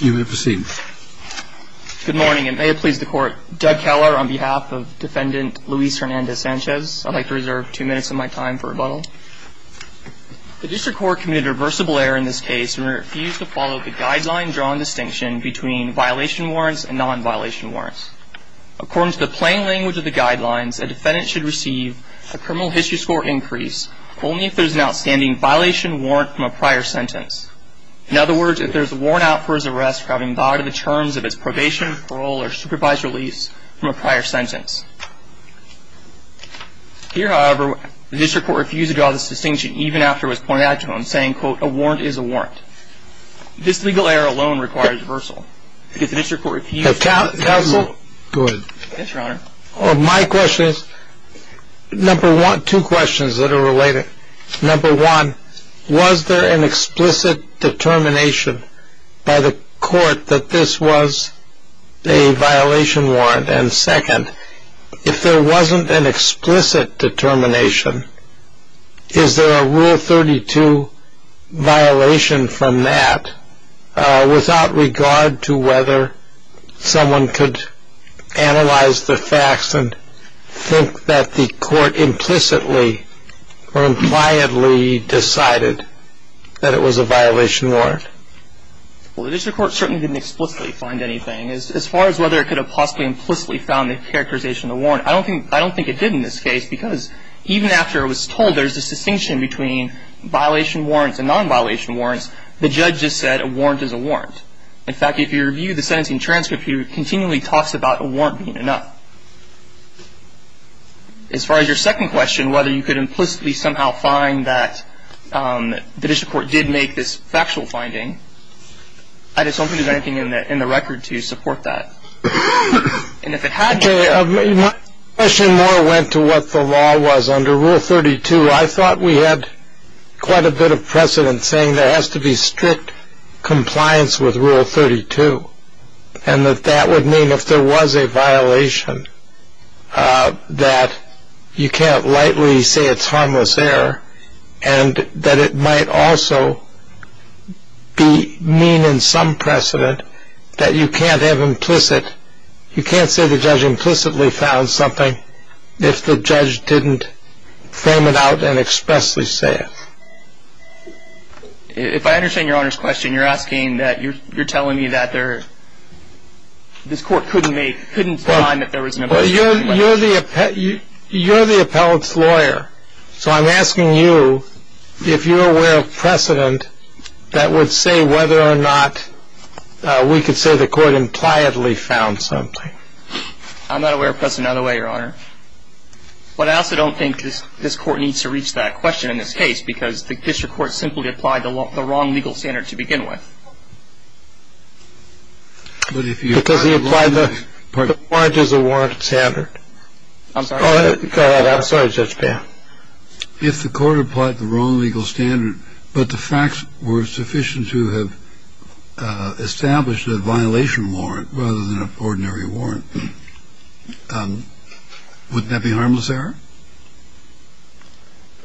You may proceed. Good morning and may it please the court. Doug Keller on behalf of defendant Luis Hernandez-Sanches. I'd like to reserve two minutes of my time for rebuttal. The district court committed a reversible error in this case and refused to follow the guideline-drawn distinction between violation warrants and non-violation warrants. According to the plain language of the guidelines, a defendant should receive a criminal history score increase only if there is an outstanding violation warrant from a prior sentence. In other words, if there is a warrant out for his arrest for having violated the terms of his probation, parole, or supervised release from a prior sentence. Here, however, the district court refused to draw this distinction even after it was pointed out to him, saying, quote, a warrant is a warrant. This legal error alone requires reversal. If the district court refused to... Counsel? Go ahead. Yes, your honor. My question is, number one, two questions that are related. Number one, was there an explicit determination by the court that this was a violation warrant? And second, if there wasn't an explicit determination, is there a Rule 32 violation from that, without regard to whether someone could analyze the facts and think that the court implicitly or impliedly decided that it was a violation warrant? Well, the district court certainly didn't explicitly find anything. As far as whether it could have possibly implicitly found the characterization of a warrant, I don't think it did in this case, because even after it was told there's a distinction between violation warrants and non-violation warrants, the judge just said a warrant is a warrant. In fact, if you review the sentencing transcript, he continually talks about a warrant being enough. As far as your second question, whether you could implicitly somehow find that the district court did make this factual finding, I just don't think there's anything in the record to support that. And if it had... My question more went to what the law was. Under Rule 32, I thought we had quite a bit of precedent, saying there has to be strict compliance with Rule 32, and that that would mean if there was a violation that you can't lightly say it's harmless error, and that it might also be mean in some precedent that you can't have implicit... If I understand Your Honor's question, you're asking that you're telling me that there... This court couldn't make... Couldn't find that there was an implicit... You're the appellate's lawyer, so I'm asking you if you're aware of precedent that would say whether or not we could say the court impliedly found something. I'm not aware of precedent that would say that, Your Honor. But I also don't think this Court needs to reach that question in this case, because the district court simply applied the wrong legal standard to begin with. But if you... Because he applied the warrant as a warranted standard. I'm sorry. Go ahead. I'm sorry, Judge Payne. If the court applied the wrong legal standard, but the facts were sufficient to have established a violation warrant rather than an ordinary warrant, wouldn't that be harmless error?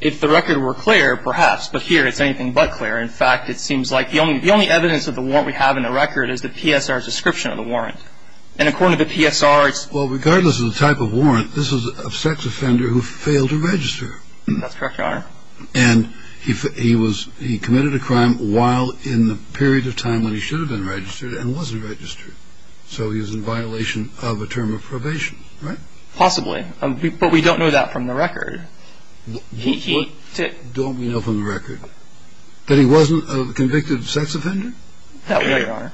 If the record were clear, perhaps, but here it's anything but clear. In fact, it seems like the only evidence of the warrant we have in the record is the PSR's description of the warrant. And according to the PSR, it's... Well, regardless of the type of warrant, this is a sex offender who failed to register. That's correct, Your Honor. And he committed a crime while in the period of time when he should have been registered and wasn't registered. So he was in violation of a term of probation, right? Possibly. But we don't know that from the record. What don't we know from the record? That he wasn't a convicted sex offender? That we know, Your Honor.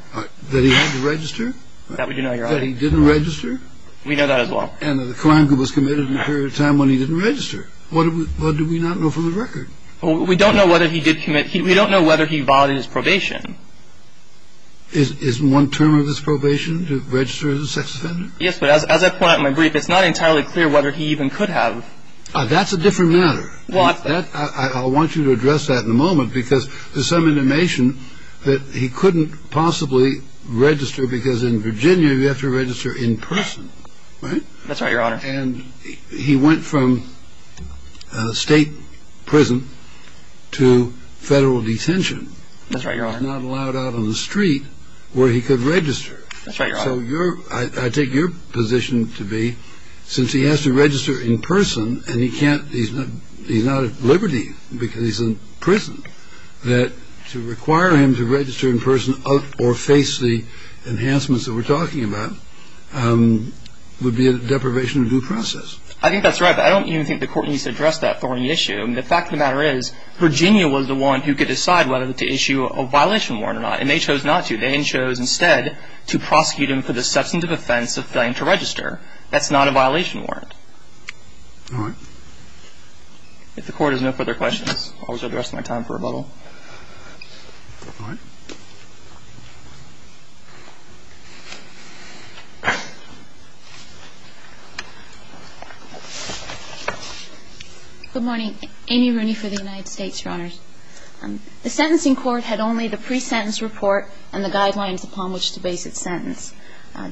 That he had to register? That we do know, Your Honor. That he didn't register? We know that as well. And the crime he was committed in the period of time when he didn't register. What do we not know from the record? We don't know whether he did commit... We don't know whether he violated his probation. Is one term of his probation to register as a sex offender? Yes, but as I point out in my brief, it's not entirely clear whether he even could have. That's a different matter. Well, that's... I want you to address that in a moment because there's some information that he couldn't possibly register because in Virginia, you have to register in person, right? That's right, Your Honor. And he went from state prison to federal detention. That's right, Your Honor. He was not allowed out on the street where he could register. That's right, Your Honor. So I take your position to be since he has to register in person and he's not at liberty because he's in prison, that to require him to register in person or face the enhancements that we're talking about would be a deprivation of due process. I think that's right, but I don't even think the Court needs to address that thorny issue. The fact of the matter is Virginia was the one who could decide whether to issue a violation warrant or not, and they chose not to. They chose instead to prosecute him for the substantive offense of failing to register. That's not a violation warrant. All right. If the Court has no further questions, I'll reserve the rest of my time for rebuttal. All right. Good morning. Amy Rooney for the United States, Your Honors. The sentencing court had only the pre-sentence report and the guidelines upon which to base its sentence.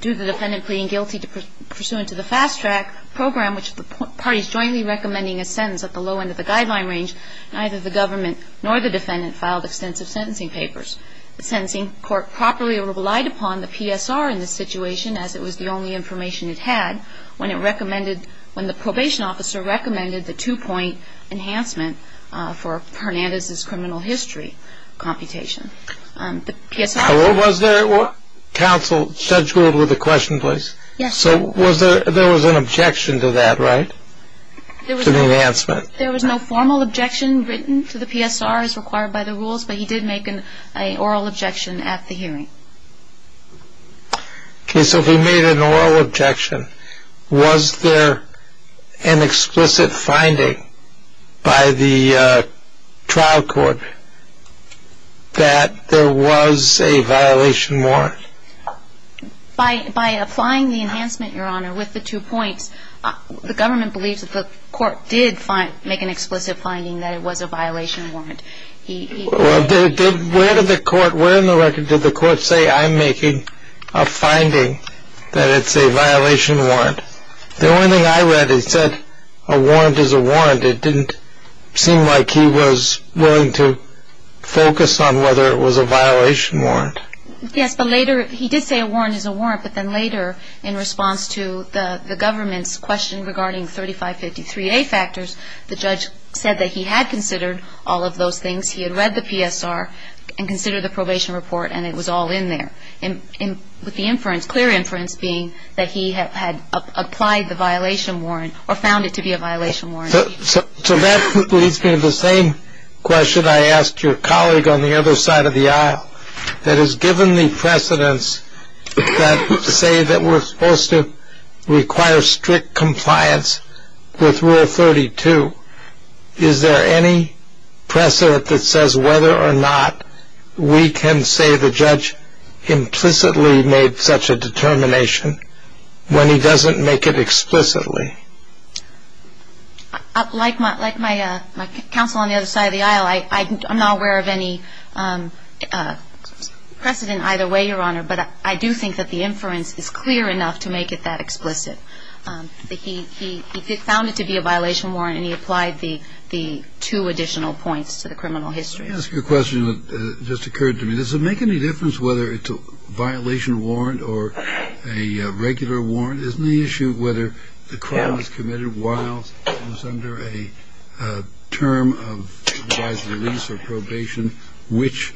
Due to the defendant pleading guilty pursuant to the fast track program, which the parties jointly recommending a sentence at the low end of the guideline range, neither the government nor the defendant filed extensive sentencing papers. The sentencing court properly relied upon the PSR in this situation, as it was the only information it had when the probation officer recommended the two-point enhancement for Hernandez's criminal history computation. Was there counsel scheduled with a question, please? Yes. So there was an objection to that, right, to the enhancement? There was no formal objection written to the PSR as required by the rules, but he did make an oral objection at the hearing. Okay, so he made an oral objection. Was there an explicit finding by the trial court that there was a violation warrant? By applying the enhancement, Your Honor, with the two points, the government believes that the court did make an explicit finding that it was a violation warrant. Where in the record did the court say, I'm making a finding that it's a violation warrant? The only thing I read, it said a warrant is a warrant. It didn't seem like he was willing to focus on whether it was a violation warrant. Yes, but later he did say a warrant is a warrant, but then later in response to the government's question regarding 3553A factors, the judge said that he had considered all of those things. He had read the PSR and considered the probation report, and it was all in there, with the inference, clear inference being that he had applied the violation warrant or found it to be a violation warrant. So that leads me to the same question I asked your colleague on the other side of the aisle, that is, given the precedents that say that we're supposed to require strict compliance with Rule 32, is there any precedent that says whether or not we can say the judge implicitly made such a determination when he doesn't make it explicitly? Like my counsel on the other side of the aisle, I'm not aware of any precedent either way, Your Honor, but I do think that the inference is clear enough to make it that explicit. He found it to be a violation warrant, and he applied the two additional points to the criminal history. Let me ask you a question that just occurred to me. Does it make any difference whether it's a violation warrant or a regular warrant? Isn't the issue whether the crime was committed while it was under a term of revised release or probation, which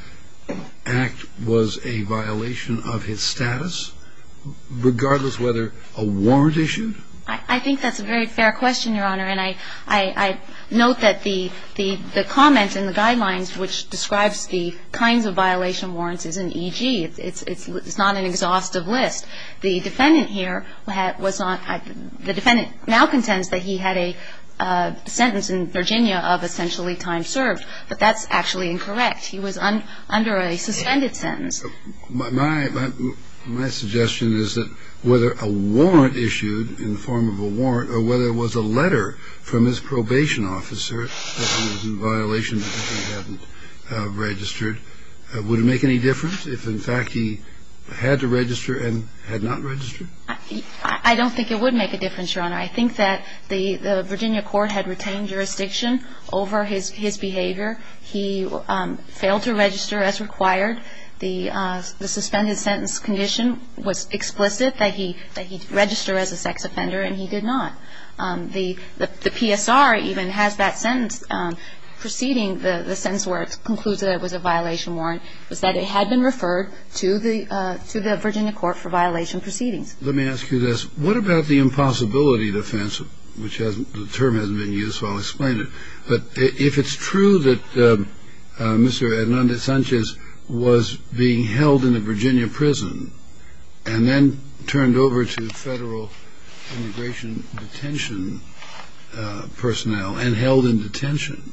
act was a violation of his status, regardless whether a warrant issued? I think that's a very fair question, Your Honor, and I note that the comment in the guidelines which describes the kinds of violation warrants is an E.G. It's not an exhaustive list. The defendant here was on the defendant now contends that he had a sentence in Virginia of essentially time served, but that's actually incorrect. He was under a suspended sentence. My suggestion is that whether a warrant issued in the form of a warrant or whether it was a letter from his probation officer that he was in violation because he hadn't registered, would it make any difference if, in fact, he had to register and had not registered? I don't think it would make a difference, Your Honor. I think that the Virginia court had retained jurisdiction over his behavior. He failed to register as required. The suspended sentence condition was explicit, that he registered as a sex offender, and he did not. The PSR even has that sentence proceeding, the sentence where it concludes that it was a violation warrant, was that it had been referred to the Virginia court for violation proceedings. Let me ask you this. What about the impossibility defense, which the term hasn't been used, so I'll explain it. But if it's true that Mr. Hernandez-Sanchez was being held in a Virginia prison and then turned over to federal immigration detention personnel and held in detention,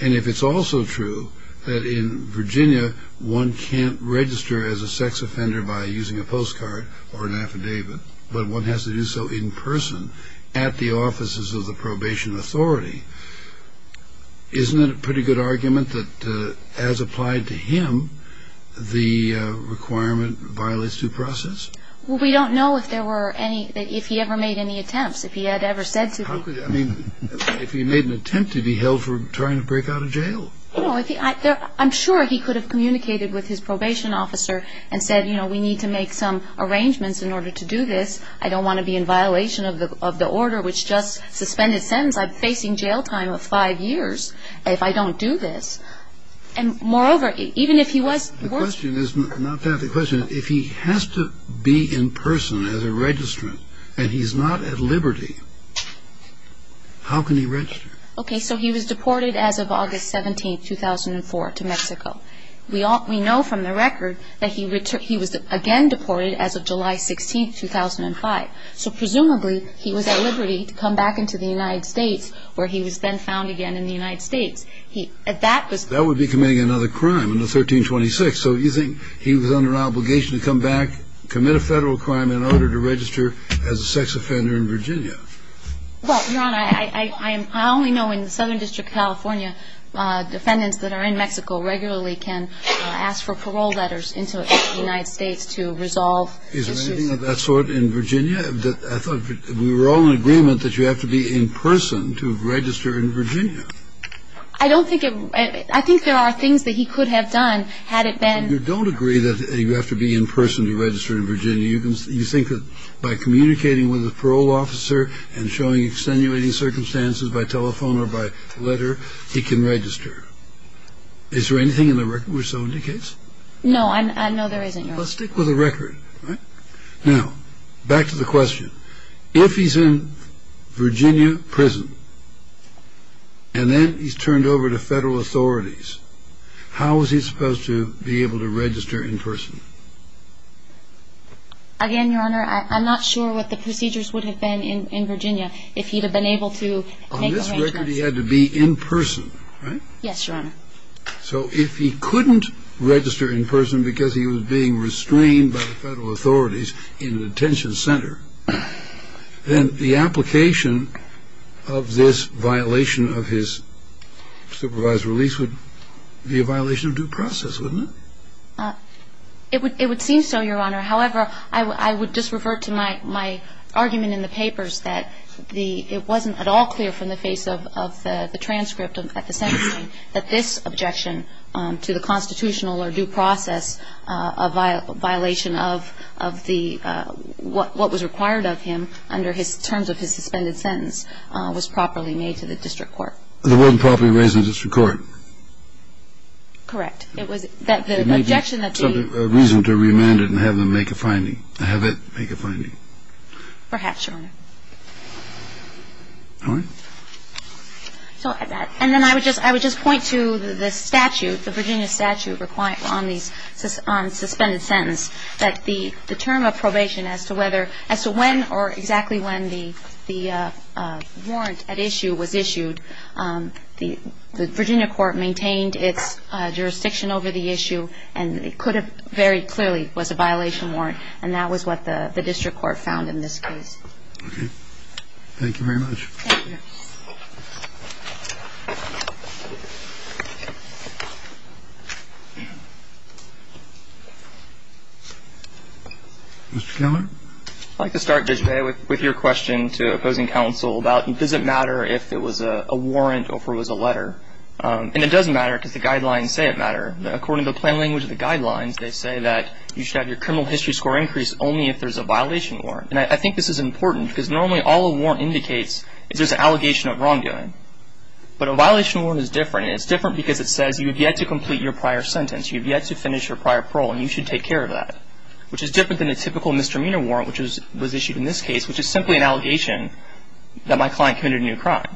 and if it's also true that in Virginia one can't register as a sex offender by using a postcard or an affidavit, but one has to do so in person at the offices of the probation authority, isn't it a pretty good argument that, as applied to him, the requirement violates due process? Well, we don't know if there were any, if he ever made any attempts, if he had ever said to be. I mean, if he made an attempt to be held for trying to break out of jail. I'm sure he could have communicated with his probation officer and said, you know, we need to make some arrangements in order to do this. I don't want to be in violation of the order which just suspended sentence. I'm facing jail time of five years if I don't do this. And moreover, even if he was. The question is not that. The question is if he has to be in person as a registrant and he's not at liberty, how can he register? Okay, so he was deported as of August 17, 2004, to Mexico. We know from the record that he was again deported as of July 16, 2005. So presumably he was at liberty to come back into the United States where he was then found again in the United States. That would be committing another crime, under 1326. So you think he was under obligation to come back, commit a federal crime in order to register as a sex offender in Virginia? Well, Your Honor, I only know in the Southern District of California, defendants that are in Mexico regularly can ask for parole letters into the United States to resolve issues. Is there anything of that sort in Virginia? I thought we were all in agreement that you have to be in person to register in Virginia. I don't think it was. I think there are things that he could have done had it been. You don't agree that you have to be in person to register in Virginia. You think that by communicating with a parole officer and showing extenuating circumstances by telephone or by letter, he can register. Is there anything in the record which so indicates? No, I know there isn't, Your Honor. Well, stick with the record. Now, back to the question. If he's in Virginia prison and then he's turned over to federal authorities, how is he supposed to be able to register in person? Again, Your Honor, I'm not sure what the procedures would have been in Virginia if he'd have been able to make arrangements. On this record, he had to be in person, right? Yes, Your Honor. So if he couldn't register in person because he was being restrained by the federal authorities in an detention center, then the application of this violation of his supervised release would be a violation of due process, wouldn't it? It would seem so, Your Honor. However, I would just revert to my argument in the papers that it wasn't at all clear from the face of the transcript at the sentencing that this objection to the constitutional or due process, a violation of what was required of him under his terms of his suspended sentence, was properly made to the district court. It wasn't properly raised in the district court? Correct. It was that the objection that the ---- There may be some reason to remand it and have them make a finding, have it make a finding. Perhaps, Your Honor. All right. And then I would just point to the statute, the Virginia statute on suspended sentence, that the term of probation as to when or exactly when the warrant at issue was issued, the Virginia court maintained its jurisdiction over the issue, and it could have very clearly was a violation warrant, and that was what the district court found in this case. Okay. Thank you very much. Thank you. Mr. Keller? I'd like to start, Judge Bay, with your question to opposing counsel about, does it matter if it was a warrant or if it was a letter? And it does matter because the guidelines say it matters. According to the plain language of the guidelines, they say that you should have your criminal history score increase only if there's a violation warrant. And I think this is important because normally all a warrant indicates is there's an allegation of wrongdoing. But a violation warrant is different, and it's different because it says you have yet to complete your prior sentence, you have yet to finish your prior parole, and you should take care of that, which is different than a typical misdemeanor warrant, which was issued in this case, which is simply an allegation that my client committed a new crime.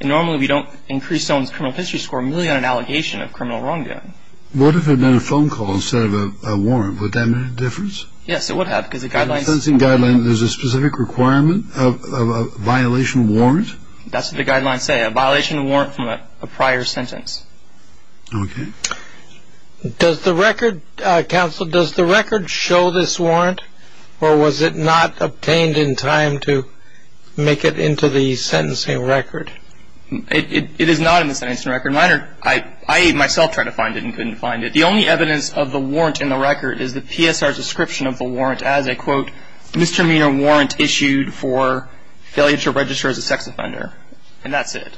And normally we don't increase someone's criminal history score merely on an allegation of criminal wrongdoing. What if it had been a phone call instead of a warrant? Would that make a difference? Yes, it would have because the guidelines ---- According to the sentencing guidelines, there's a specific requirement of a violation warrant? That's what the guidelines say, a violation warrant from a prior sentence. Okay. Does the record, counsel, does the record show this warrant or was it not obtained in time to make it into the sentencing record? It is not in the sentencing record. I myself tried to find it and couldn't find it. The only evidence of the warrant in the record is the PSR description of the warrant as a, quote, misdemeanor warrant issued for failure to register as a sex offender, and that's it.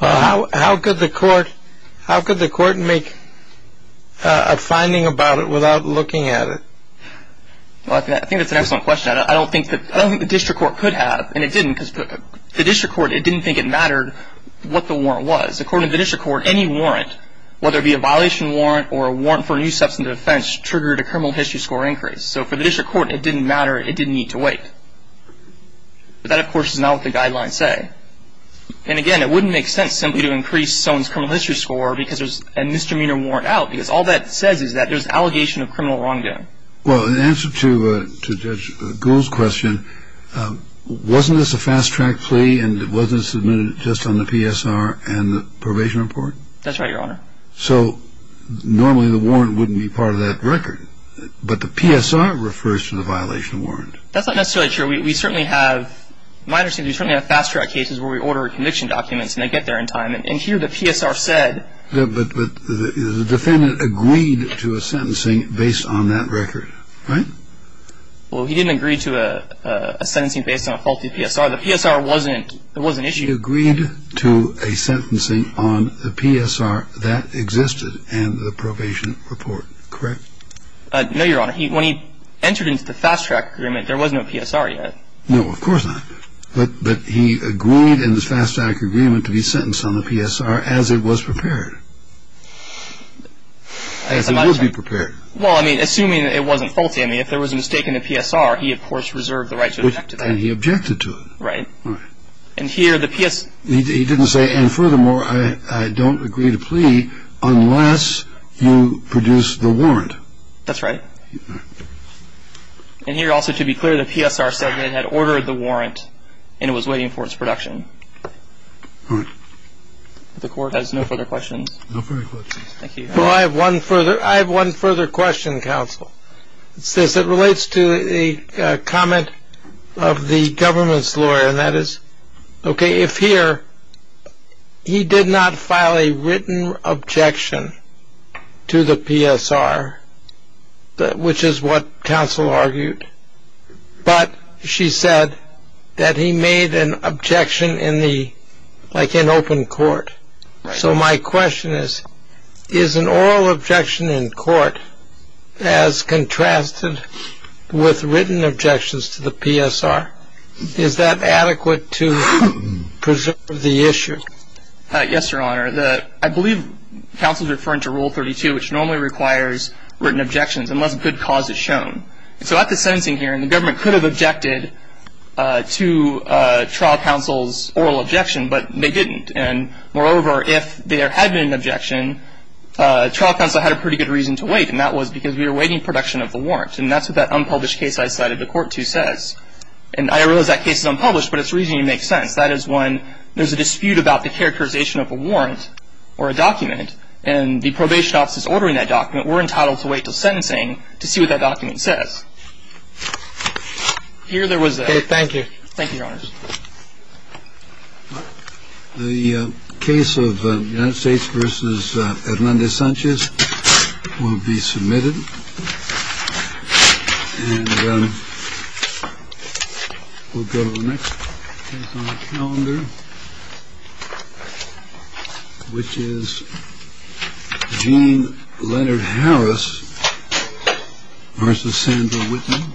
How could the court make a finding about it without looking at it? I think that's an excellent question. I don't think the district court could have, and it didn't, because the district court didn't think it mattered what the warrant was. According to the district court, any warrant, whether it be a violation warrant or a warrant for a new substantive offense triggered a criminal history score increase. So for the district court, it didn't matter. It didn't need to wait. But that, of course, is not what the guidelines say. And, again, it wouldn't make sense simply to increase someone's criminal history score because there's a misdemeanor warrant out because all that says is that there's allegation of criminal wrongdoing. Well, in answer to Judge Gould's question, wasn't this a fast-track plea and it wasn't submitted just on the PSR and the probation report? That's right, Your Honor. So normally the warrant wouldn't be part of that record, but the PSR refers to the violation warrant. That's not necessarily true. We certainly have – my understanding is we certainly have fast-track cases where we order conviction documents and they get there in time. And here the PSR said – But the defendant agreed to a sentencing based on that record, right? Well, he didn't agree to a sentencing based on a faulty PSR. The PSR wasn't issued. He agreed to a sentencing on the PSR that existed and the probation report, correct? No, Your Honor. When he entered into the fast-track agreement, there was no PSR yet. No, of course not. But he agreed in the fast-track agreement to be sentenced on the PSR as it was prepared. As it would be prepared. Well, I mean, assuming it wasn't faulty. I mean, if there was a mistake in the PSR, he, of course, reserved the right to object to that. And he objected to it. Right. All right. And here the PS – He didn't say, and furthermore, I don't agree to plea unless you produce the warrant. That's right. All right. And here also, to be clear, the PSR said that it had ordered the warrant and it was waiting for its production. All right. The Court has no further questions. No further questions. Thank you. Well, I have one further – I have one further question, counsel. It relates to a comment of the government's lawyer, and that is, okay, if here he did not file a written objection to the PSR, which is what counsel argued, but she said that he made an objection in the – like in open court. Right. So my question is, is an oral objection in court as contrasted with written objections to the PSR? Is that adequate to preserve the issue? Yes, Your Honor. I believe counsel is referring to Rule 32, which normally requires written objections, unless a good cause is shown. So at the sentencing hearing, the government could have objected to trial counsel's oral objection, but they didn't. And moreover, if there had been an objection, trial counsel had a pretty good reason to wait, and that was because we were waiting for production of the warrant. And that's what that unpublished case I cited the Court to says. And I realize that case is unpublished, but its reasoning makes sense. That is, when there's a dispute about the characterization of a warrant or a document and the probation office is ordering that document, we're entitled to wait until sentencing to see what that document says. Okay. Thank you. Thank you, Your Honors. The case of the United States versus at Monday, Sanchez will be submitted. And we'll go to the next calendar, which is Gene Leonard Harris versus Sandra Whitman.